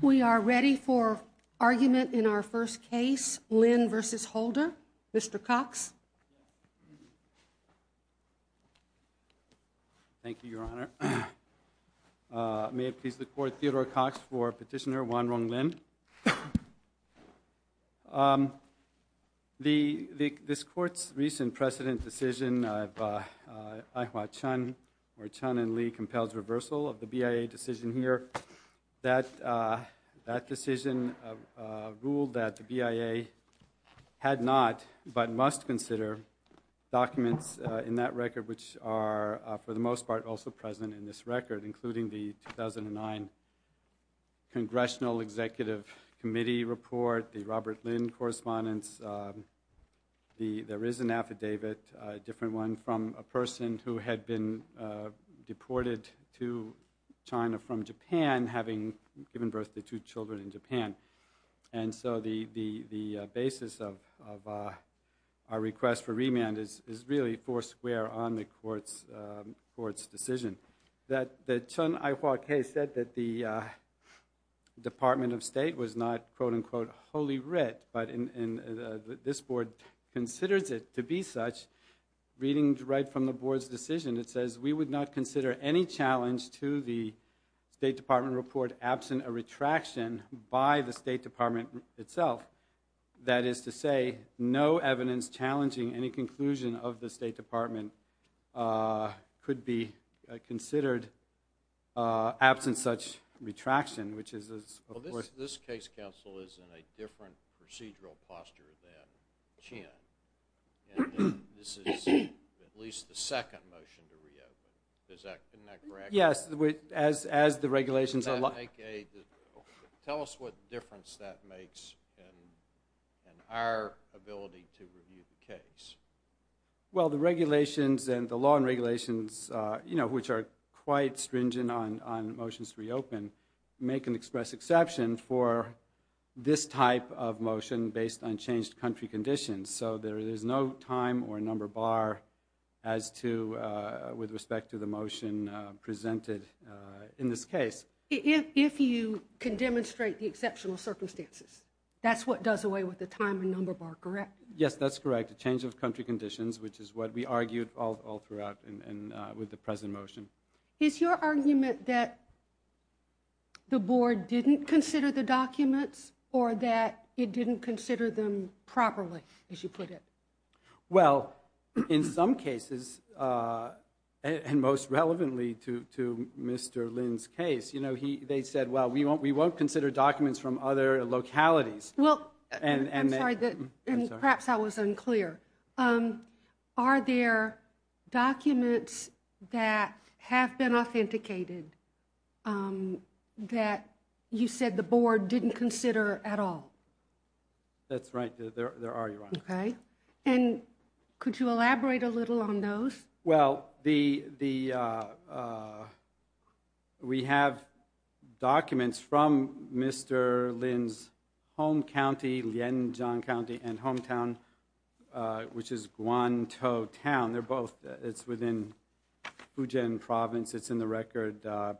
We are ready for argument in our first case, Lin v. Holder. Mr. Cox. Thank you, Your Honor. May it please the Court, Theodore Cox for Petitioner Wanrong Lin. This Court's recent precedent decision of Ai-Hwa Chun, where Chun and Lee compels reversal of the BIA decision here, that decision ruled that the BIA had not but must consider documents in that record which are, for the most part, also present in this record, including the 2009 Congressional Executive Committee report, the Robert Lin correspondence. There is an affidavit, a different one, from a person who had been deported to China from Japan, having given birth to two children in Japan. And so the basis of our request for remand is really four square on the Court's decision. The Chun-Ai-Hwa case said that the Department of State was not, quote-unquote, wholly writ, but this Board considers it to be such. Reading right from the Board's decision, it says, we would not consider any challenge to the State Department report absent a retraction by the State Department itself. That is to say, no evidence challenging any conclusion of the State Department could be considered absent such retraction. Well, this case, counsel, is in a different procedural posture than Chun. And this is at least the second motion to reopen. Isn't that correct? Yes, as the regulations allow. Tell us what difference that makes in our ability to review the case. Well, the regulations and the law and regulations, you know, which are quite stringent on motions to reopen, make an express exception for this type of motion based on changed country conditions. So there is no time or number bar as to, with respect to the motion presented in this case. If you can demonstrate the exceptional circumstances, that's what does away with the time and number bar, correct? Yes, that's correct. A change of country conditions, which is what we argued all throughout with the present motion. Is your argument that the Board didn't consider the documents or that it didn't consider them properly, as you put it? Well, in some cases, and most relevantly to Mr. Lynn's case, you know, they said, well, we won't consider documents from other localities. Well, and perhaps I was unclear. Are there documents that have been authenticated that you said the Board didn't consider at all? That's right. There are. And could you elaborate a little on those? Well, we have documents from Mr. Lynn's home county, Lianjian County, and hometown, which is Guantou Town. They're both within Fujian Province. It's in the record. I'd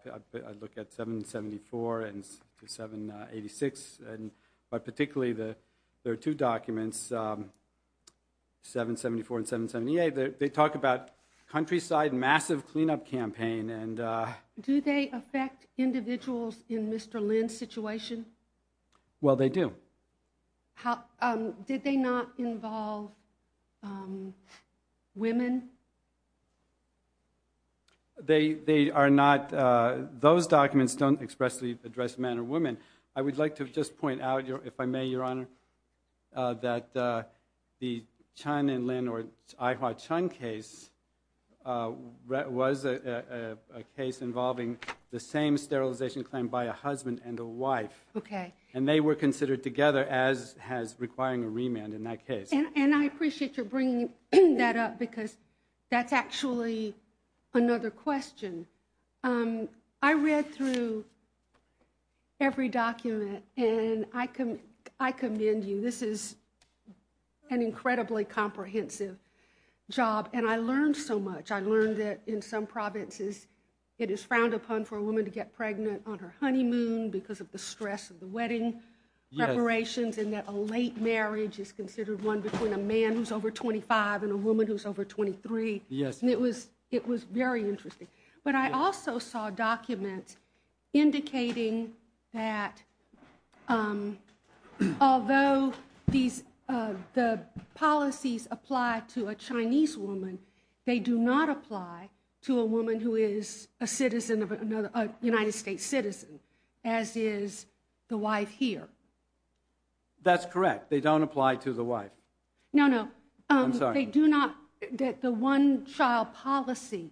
look at 774 and 786, but particularly there are two documents, 774 and 778. They talk about countryside, massive cleanup campaign. Do they affect individuals in Mr. Lynn's situation? Well, they do. Did they not involve women? They are not – those documents don't expressly address men or women. I would like to just point out, if I may, Your Honor, that the Chun and Lynn or Ai-Hwa Chun case was a case involving the same sterilization claim by a husband and a wife. Okay. And they were considered together as requiring a remand in that case. And I appreciate your bringing that up because that's actually another question. I read through every document, and I commend you. This is an incredibly comprehensive job, and I learned so much. I learned that in some provinces it is frowned upon for a woman to get pregnant on her honeymoon because of the stress of the wedding preparations, and that a late marriage is considered one between a man who's over 25 and a woman who's over 23. Yes. And it was very interesting. But I also saw documents indicating that although the policies apply to a Chinese woman, they do not apply to a woman who is a United States citizen, as is the wife here. That's correct. They don't apply to the wife. No, no. I'm sorry. They do not, that the one-child policy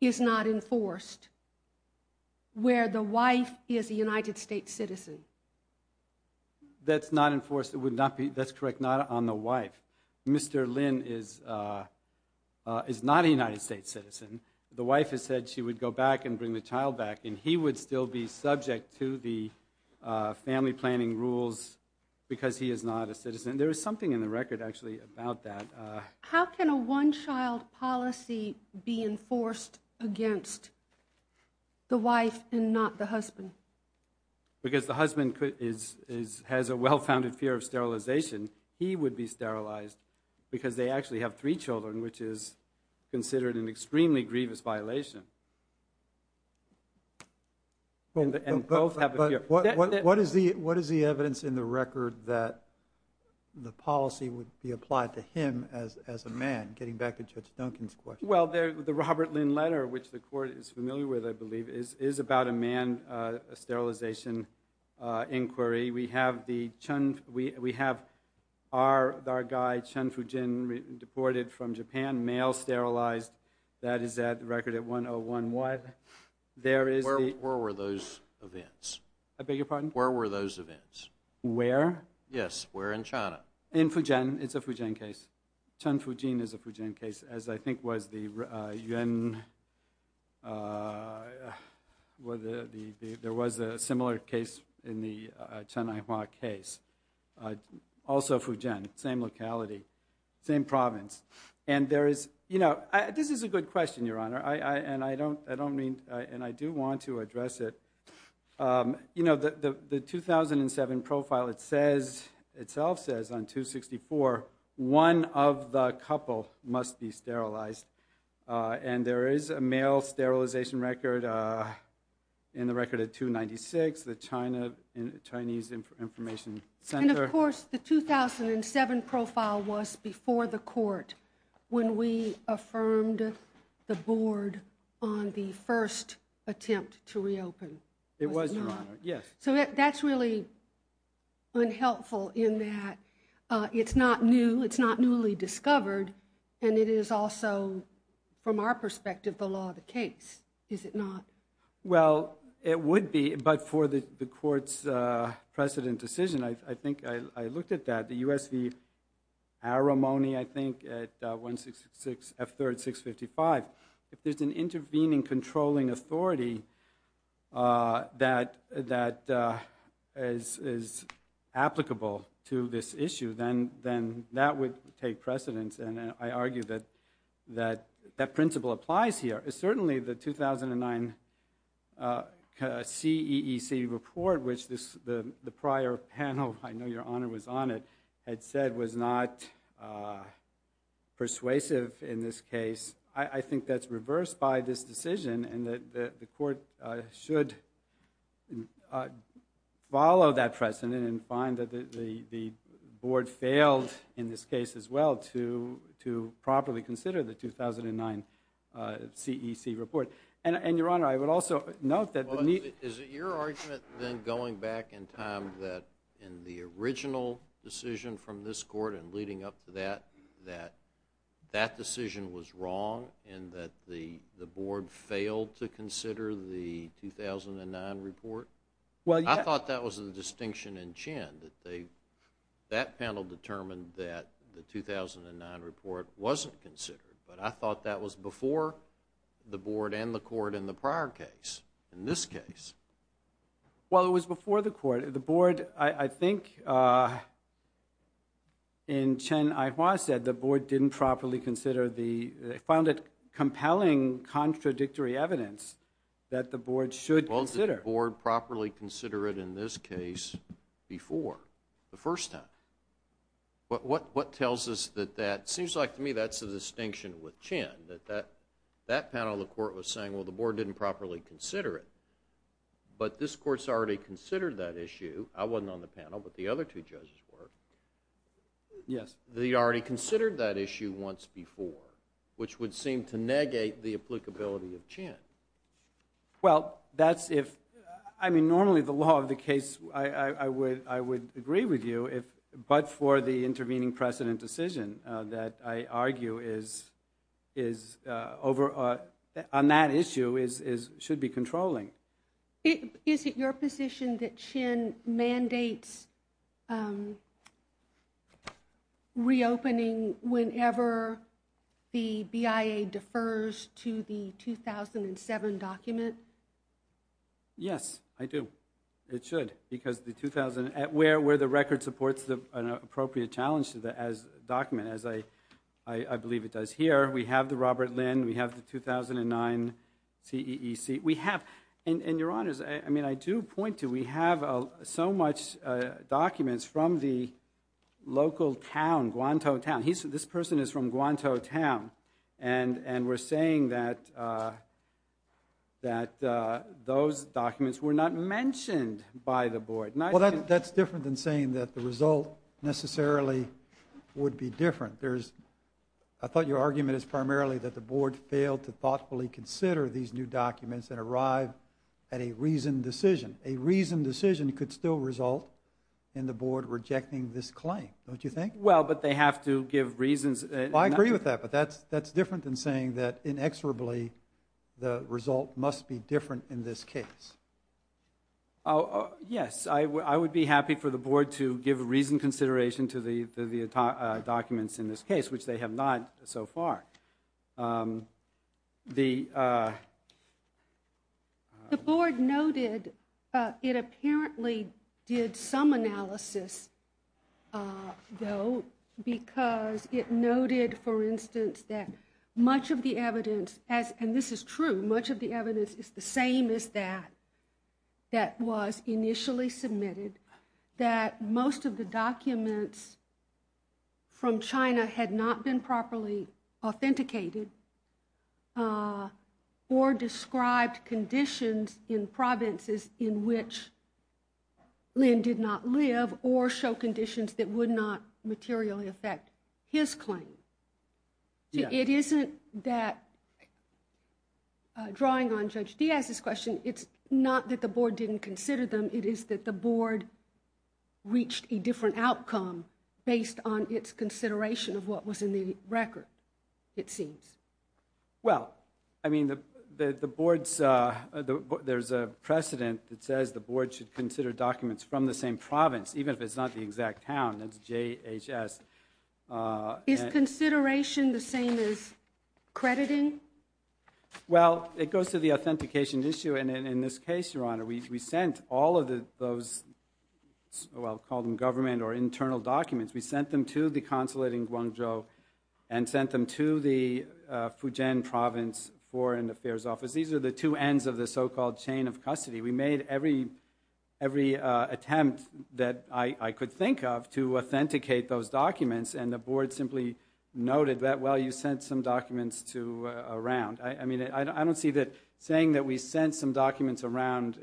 is not enforced where the wife is a United States citizen. That's not enforced. It would not be, that's correct, not on the wife. Mr. Lin is not a United States citizen. The wife has said she would go back and bring the child back, and he would still be subject to the family planning rules because he is not a citizen. There is something in the record, actually, about that. How can a one-child policy be enforced against the wife and not the husband? Because the husband has a well-founded fear of sterilization. He would be sterilized because they actually have three children, which is considered an extremely grievous violation. And both have a fear. What is the evidence in the record that the policy would be applied to him as a man, getting back to Judge Duncan's question? Well, the Robert Lin letter, which the Court is familiar with, I believe, is about a man sterilization inquiry. We have our guy, Chun Fujin, deported from Japan, male, sterilized. That is the record at 101. Where were those events? I beg your pardon? Where were those events? Where? Yes, where in China? In Fujian. It's a Fujian case. Chun Fujian is a Fujian case, as I think was the Yuan – there was a similar case in the Chen Aihua case, also Fujian, same locality, same province. And there is – this is a good question, Your Honor, and I don't mean – and I do want to address it. The 2007 profile itself says on 264, one of the couple must be sterilized. And there is a male sterilization record in the record at 296, the Chinese Information Center. And, of course, the 2007 profile was before the Court when we affirmed the board on the first attempt to reopen. It was, Your Honor, yes. So that's really unhelpful in that it's not new, it's not newly discovered, and it is also, from our perspective, the law of the case, is it not? Well, it would be, but for the Court's precedent decision, I think I looked at that, the U.S. v. Aramoni, I think, at 166 F3rd 655. If there's an intervening controlling authority that is applicable to this issue, then that would take precedence, and I argue that that principle applies here. Certainly, the 2009 CEEC report, which the prior panel, I know Your Honor was on it, had said was not persuasive in this case. I think that's reversed by this decision and that the Court should follow that precedent and find that the board failed in this case as well to properly consider the 2009 CEEC report. And, Your Honor, I would also note that the need— Well, is it your argument then going back in time that in the original decision from this Court and leading up to that that that decision was wrong and that the board failed to consider the 2009 report? I thought that was a distinction in Chen that that panel determined that the 2009 report wasn't considered, but I thought that was before the board and the Court in the prior case, in this case. Well, it was before the Court. The board, I think, in Chen Aihua said the board didn't properly consider the— they found it compelling contradictory evidence that the board should consider. Why didn't the board properly consider it in this case before, the first time? What tells us that that—seems like to me that's a distinction with Chen, that that panel of the Court was saying, well, the board didn't properly consider it, but this Court's already considered that issue. I wasn't on the panel, but the other two judges were. Yes. They already considered that issue once before, which would seem to negate the applicability of Chen. Well, that's if—I mean, normally the law of the case, I would agree with you, but for the intervening precedent decision that I argue is over—on that issue should be controlling. Is it your position that Chen mandates reopening whenever the BIA defers to the 2007 document? Yes, I do. It should, because the 2000—where the record supports an appropriate challenge to the document, as I believe it does here, we have the Robert Lynn, we have the 2009 CEEC. We have—and, Your Honors, I mean, I do point to we have so much documents from the local town, Guantanamo Town. This person is from Guantanamo Town, and we're saying that those documents were not mentioned by the board. Well, that's different than saying that the result necessarily would be different. I thought your argument is primarily that the board failed to thoughtfully consider these new documents and arrive at a reasoned decision. A reasoned decision could still result in the board rejecting this claim, don't you think? Well, but they have to give reasons. I agree with that, but that's different than saying that inexorably the result must be different in this case. Yes, I would be happy for the board to give reasoned consideration to the documents in this case, which they have not so far. The board noted it apparently did some analysis, though, because it noted, for instance, that much of the evidence, and this is true, much of the evidence is the same as that that was initially submitted, that most of the documents from China had not been properly authenticated or described conditions in provinces in which Lin did not live or show conditions that would not materially affect his claim. It isn't that, drawing on Judge Diaz's question, it's not that the board didn't consider them, it is that the board reached a different outcome based on its consideration of what was in the record, it seems. Well, I mean, there's a precedent that says the board should consider documents from the same province, even if it's not the exact town, that's JHS. Is consideration the same as crediting? Well, it goes to the authentication issue, and in this case, Your Honor, we sent all of those, well, call them government or internal documents, we sent them to the consulate in Guangzhou and sent them to the Fujian Province Foreign Affairs Office. These are the two ends of the so-called chain of custody. We made every attempt that I could think of to authenticate those documents, and the board simply noted that, well, you sent some documents around. I mean, I don't see that saying that we sent some documents around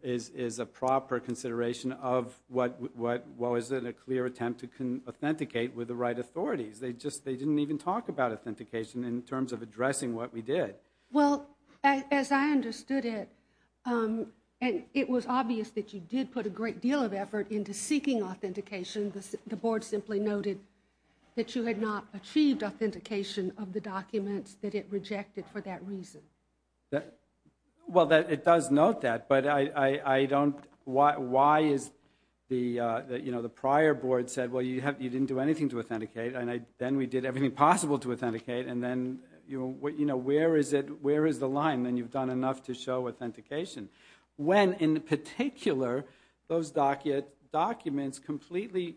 is a proper consideration of, well, is it a clear attempt to authenticate with the right authorities? They didn't even talk about authentication in terms of addressing what we did. Well, as I understood it, it was obvious that you did put a great deal of effort into seeking authentication. The board simply noted that you had not achieved authentication of the documents, that it rejected for that reason. Well, it does note that, but I don't why is the prior board said, well, you didn't do anything to authenticate, and then we did everything possible to authenticate, and then where is the line? Then you've done enough to show authentication. When, in particular, those documents completely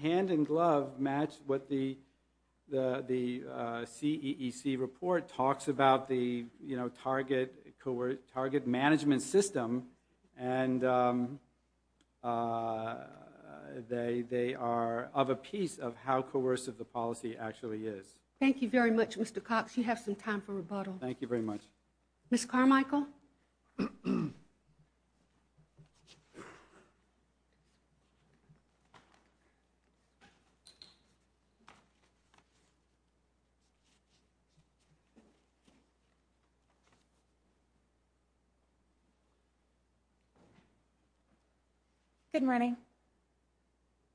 hand-in-glove match what the CEEC report talks about, the target management system, and they are of a piece of how coercive the policy actually is. Thank you very much, Mr. Cox. You have some time for rebuttal. Thank you very much. Ms. Carmichael? Good morning.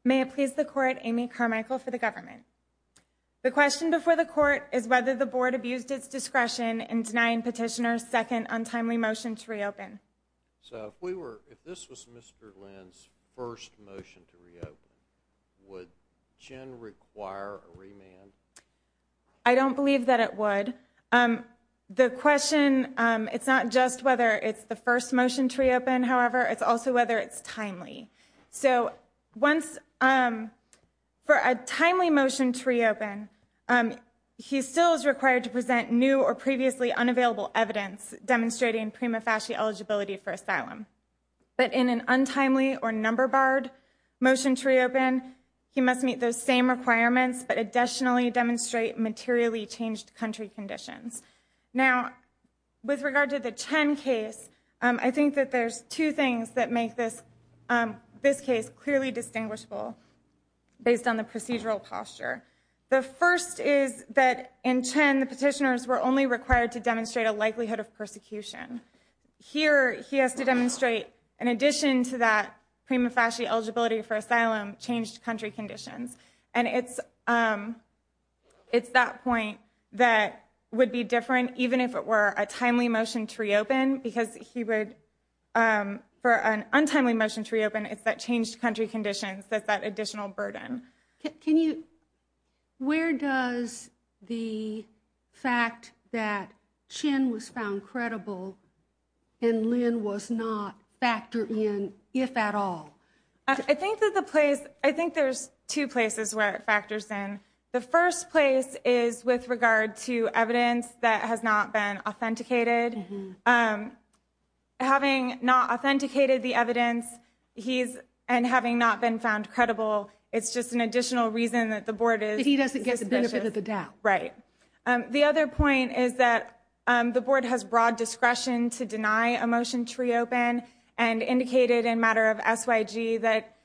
May it please the court, Amy Carmichael for the government. The question before the court is whether the board abused its discretion in denying Petitioner's second untimely motion to reopen. So if this was Mr. Lynn's first motion to reopen, would CHIN require a remand? I don't believe that it would. The question, it's not just whether it's the first motion to reopen, however, it's also whether it's timely. So for a timely motion to reopen, he still is required to present new or previously unavailable evidence demonstrating prima facie eligibility for asylum. But in an untimely or number-barred motion to reopen, he must meet those same requirements, but additionally demonstrate materially changed country conditions. Now, with regard to the CHIN case, I think that there's two things that make this case clearly distinguishable based on the procedural posture. The first is that in CHIN, the petitioners were only required to demonstrate a likelihood of persecution. Here, he has to demonstrate, in addition to that prima facie eligibility for asylum, changed country conditions. And it's that point that would be different, even if it were a timely motion to reopen, because for an untimely motion to reopen, it's that changed country conditions that's that additional burden. Can you, where does the fact that CHIN was found credible and Lynn was not factored in, if at all? I think that the place, I think there's two places where it factors in. The first place is with regard to evidence that has not been authenticated. Having not authenticated the evidence, he's, and having not been found credible, it's just an additional reason that the board is. He doesn't get the benefit of the doubt. Right. The other point is that the board has broad discretion to deny a motion to reopen and indicated in matter of S.Y.G. that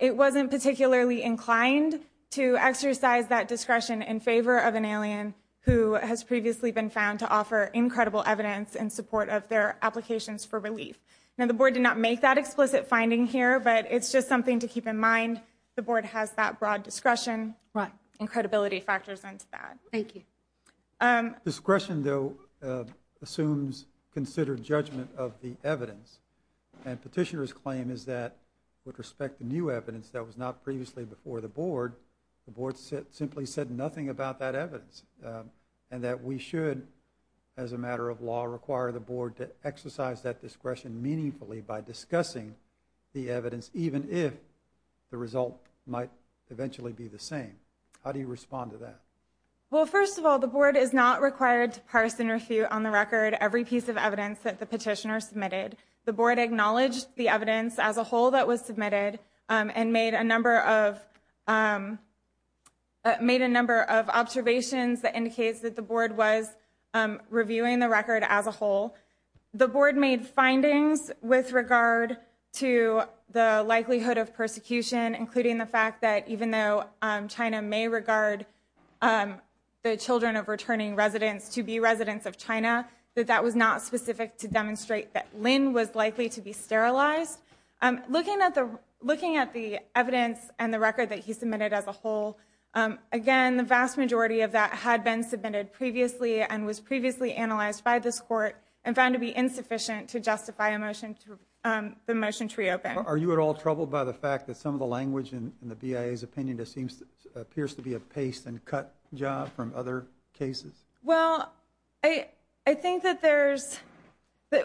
it wasn't particularly inclined to exercise that discretion in favor of an alien who has previously been found to offer incredible evidence in support of their applications for relief. Now, the board did not make that explicit finding here, but it's just something to keep in mind. The board has that broad discretion. Right. And credibility factors into that. Thank you. Discretion, though, assumes considered judgment of the evidence. And petitioner's claim is that with respect to new evidence that was not previously before the board, the board simply said nothing about that evidence and that we should, as a matter of law, require the board to exercise that discretion meaningfully by discussing the evidence, even if the result might eventually be the same. How do you respond to that? Well, first of all, the board is not required to parse and refute on the record every piece of evidence that the petitioner submitted. The board acknowledged the evidence as a whole that was submitted and made a number of made a number of observations. That indicates that the board was reviewing the record as a whole. The board made findings with regard to the likelihood of persecution, including the fact that even though China may regard the children of returning residents to be residents of China, that that was not specific to demonstrate that Lynn was likely to be sterilized. Looking at the looking at the evidence and the record that he submitted as a whole. Again, the vast majority of that had been submitted previously and was previously analyzed by this court and found to be insufficient to justify a motion to the motion to reopen. Are you at all troubled by the fact that some of the language in the BIA's opinion seems appears to be a paste and cut job from other cases? Well, I think that there's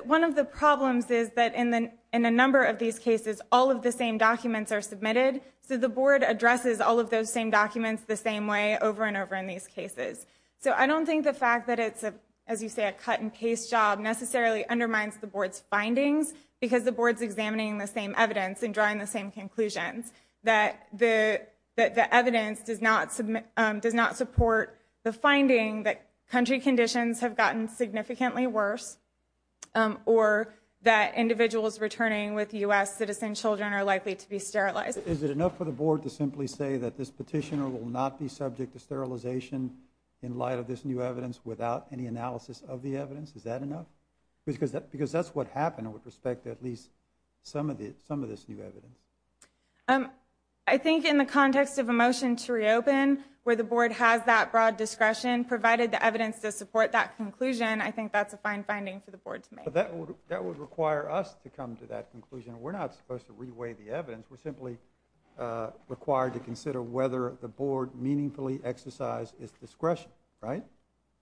one of the problems is that in the in a number of these cases, all of the same documents are submitted. So the board addresses all of those same documents the same way over and over in these cases. So I don't think the fact that it's, as you say, a cut and paste job necessarily undermines the board's findings, because the board's examining the same evidence and drawing the same conclusions, that the evidence does not does not support the finding that country conditions have gotten significantly worse or that individuals returning with U.S. citizen children are likely to be sterilized. Is it enough for the board to simply say that this petitioner will not be subject to sterilization in light of this new evidence without any analysis of the evidence? Is that enough? Because that's what happened with respect to at least some of the some of this new evidence. I think in the context of a motion to reopen where the board has that broad discretion provided the evidence to support that conclusion, I think that's a fine finding for the board to make. That would require us to come to that conclusion. We're not supposed to reweigh the evidence. We're simply required to consider whether the board meaningfully exercise its discretion. Right.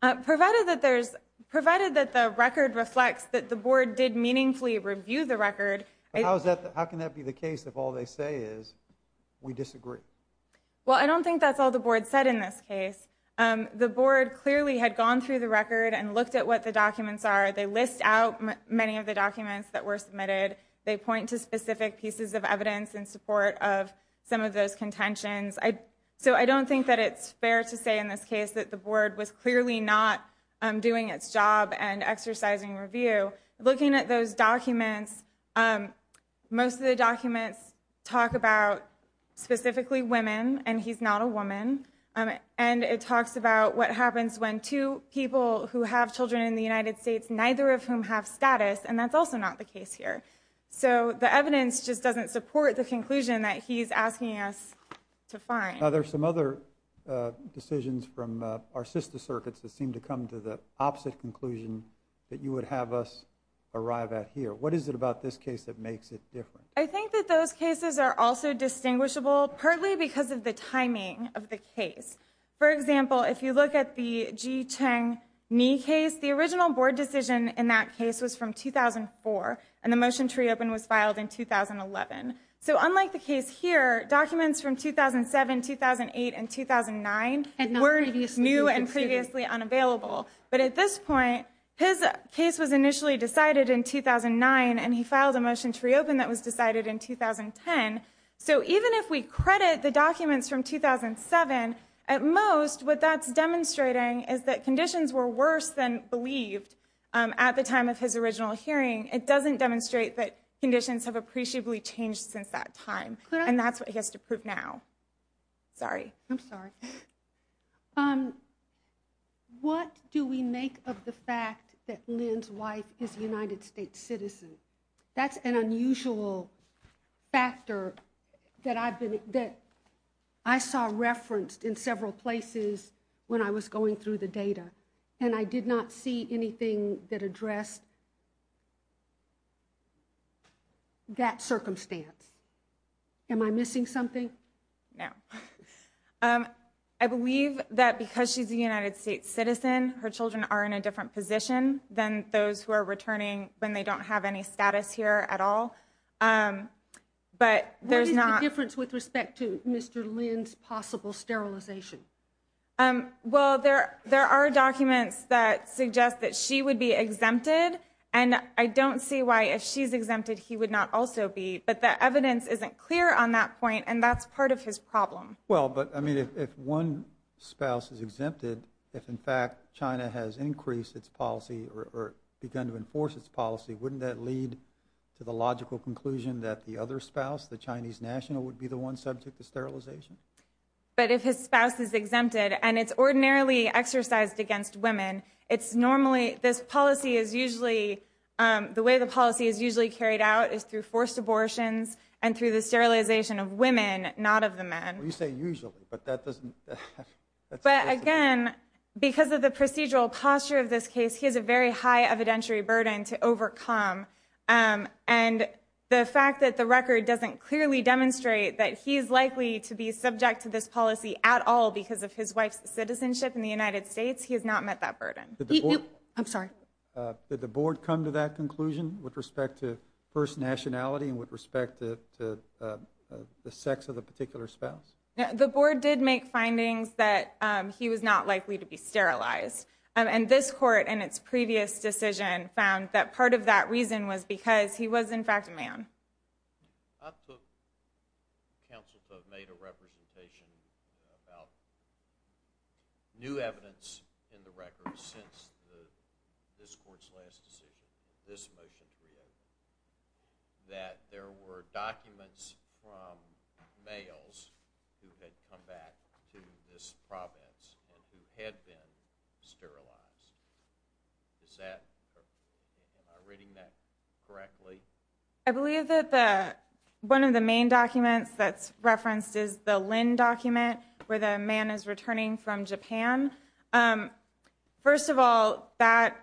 Provided that there's provided that the record reflects that the board did meaningfully review the record. How is that? How can that be the case if all they say is we disagree? Well, I don't think that's all the board said in this case. The board clearly had gone through the record and looked at what the documents are. They list out many of the documents that were submitted. They point to specific pieces of evidence in support of some of those contentions. So I don't think that it's fair to say in this case that the board was clearly not doing its job and exercising review. Looking at those documents, most of the documents talk about specifically women and he's not a woman. And it talks about what happens when two people who have children in the United States, neither of whom have status. And that's also not the case here. So the evidence just doesn't support the conclusion that he's asking us to find. Now, there's some other decisions from our sister circuits that seem to come to the opposite conclusion that you would have us arrive at here. What is it about this case that makes it different? I think that those cases are also distinguishable, partly because of the timing of the case. For example, if you look at the Ji Cheng Ni case, the original board decision in that case was from 2004, and the motion to reopen was filed in 2011. So unlike the case here, documents from 2007, 2008, and 2009 were new and previously unavailable. But at this point, his case was initially decided in 2009, and he filed a motion to reopen that was decided in 2010. So even if we credit the documents from 2007, at most what that's demonstrating is that conditions were worse than believed at the time of his original hearing. It doesn't demonstrate that conditions have appreciably changed since that time. And that's what he has to prove now. Sorry. I'm sorry. What do we make of the fact that Lin's wife is a United States citizen? That's an unusual factor that I saw referenced in several places when I was going through the data, and I did not see anything that addressed that circumstance. Am I missing something? No. I believe that because she's a United States citizen, her children are in a different position than those who are returning when they don't have any status here at all. What is the difference with respect to Mr. Lin's possible sterilization? Well, there are documents that suggest that she would be exempted, and I don't see why if she's exempted he would not also be. But the evidence isn't clear on that point, and that's part of his problem. Well, but, I mean, if one spouse is exempted, if, in fact, China has increased its policy or begun to enforce its policy, wouldn't that lead to the logical conclusion that the other spouse, the Chinese national, would be the one subject to sterilization? But if his spouse is exempted, and it's ordinarily exercised against women, it's normally, this policy is usually, the way the policy is usually carried out is through forced abortions and through the sterilization of women, not of the men. Well, you say usually, but that doesn't... But, again, because of the procedural posture of this case, he has a very high evidentiary burden to overcome. And the fact that the record doesn't clearly demonstrate that he's likely to be subject to this policy at all because of his wife's citizenship in the United States, he has not met that burden. Did the board... I'm sorry. Did the board come to that conclusion with respect to first nationality and with respect to the sex of the particular spouse? The board did make findings that he was not likely to be sterilized. And this court, in its previous decision, found that part of that reason was because he was, in fact, a man. I took counsel to have made a representation about new evidence in the record since this court's last decision, this motion to reopen, that there were documents from males who had come back to this province and who had been sterilized. Is that... Am I reading that correctly? I believe that one of the main documents that's referenced is the Lynn document, where the man is returning from Japan. First of all, that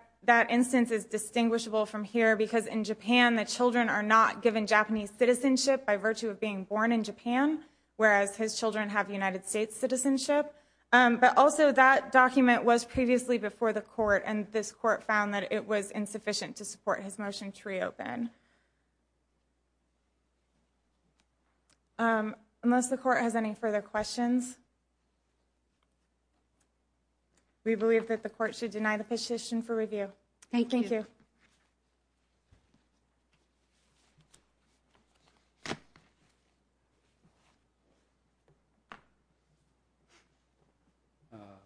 instance is distinguishable from here because in Japan, the children are not given Japanese citizenship by virtue of being born in Japan, whereas his children have United States citizenship. But also, that document was previously before the court, and this court found that it was insufficient to support his motion to reopen. Unless the court has any further questions. We believe that the court should deny the position for review. Thank you. Thank you.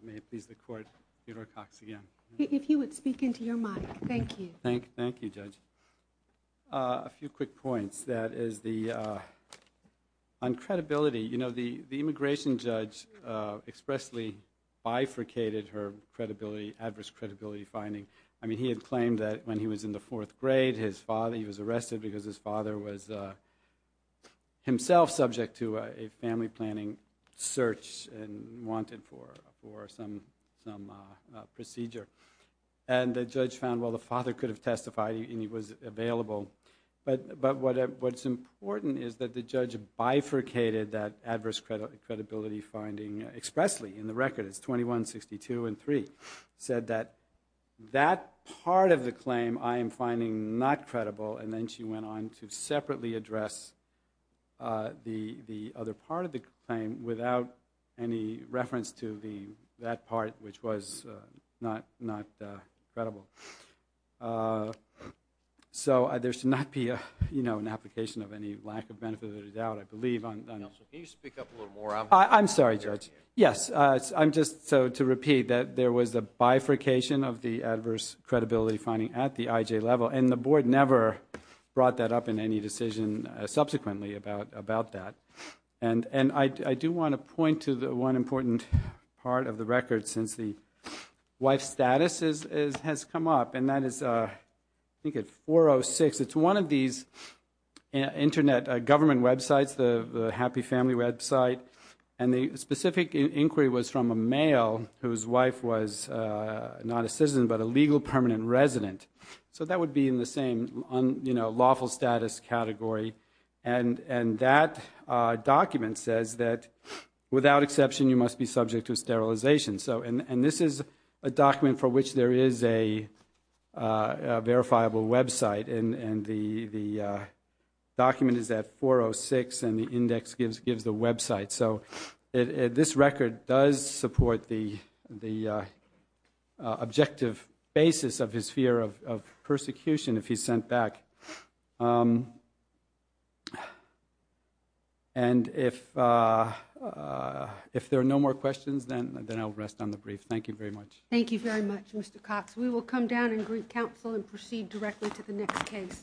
May it please the court. Peter Cox again. If you would speak into your mic. Thank you. Thank you, Judge. A few quick points. One of the things that is the uncredibility. You know, the immigration judge expressly bifurcated her credibility, adverse credibility finding. I mean, he had claimed that when he was in the fourth grade, his father, he was arrested because his father was himself subject to a family planning search and wanted for some procedure. And the judge found, well, the father could have testified, and he was available. But what's important is that the judge bifurcated that adverse credibility finding expressly in the record. It's 21, 62, and 3. Said that that part of the claim, I am finding not credible. And then she went on to separately address the other part of the claim without any reference to that part, which was not credible. So there should not be an application of any lack of benefit or doubt, I believe. Can you speak up a little more? I'm sorry, Judge. Yes. I'm just to repeat that there was a bifurcation of the adverse credibility finding at the IJ level, and the board never brought that up in any decision subsequently about that. And I do want to point to one important part of the record since the wife status has come up, and that is I think at 406. It's one of these Internet government websites, the happy family website. And the specific inquiry was from a male whose wife was not a citizen but a legal permanent resident. So that would be in the same lawful status category. And that document says that, without exception, you must be subject to sterilization. And this is a document for which there is a verifiable website, and the document is at 406, and the index gives the website. So this record does support the objective basis of his fear of persecution if he's sent back. And if there are no more questions, then I'll rest on the brief. Thank you very much. Thank you very much, Mr. Cox. We will come down and greet counsel and proceed directly to the next case.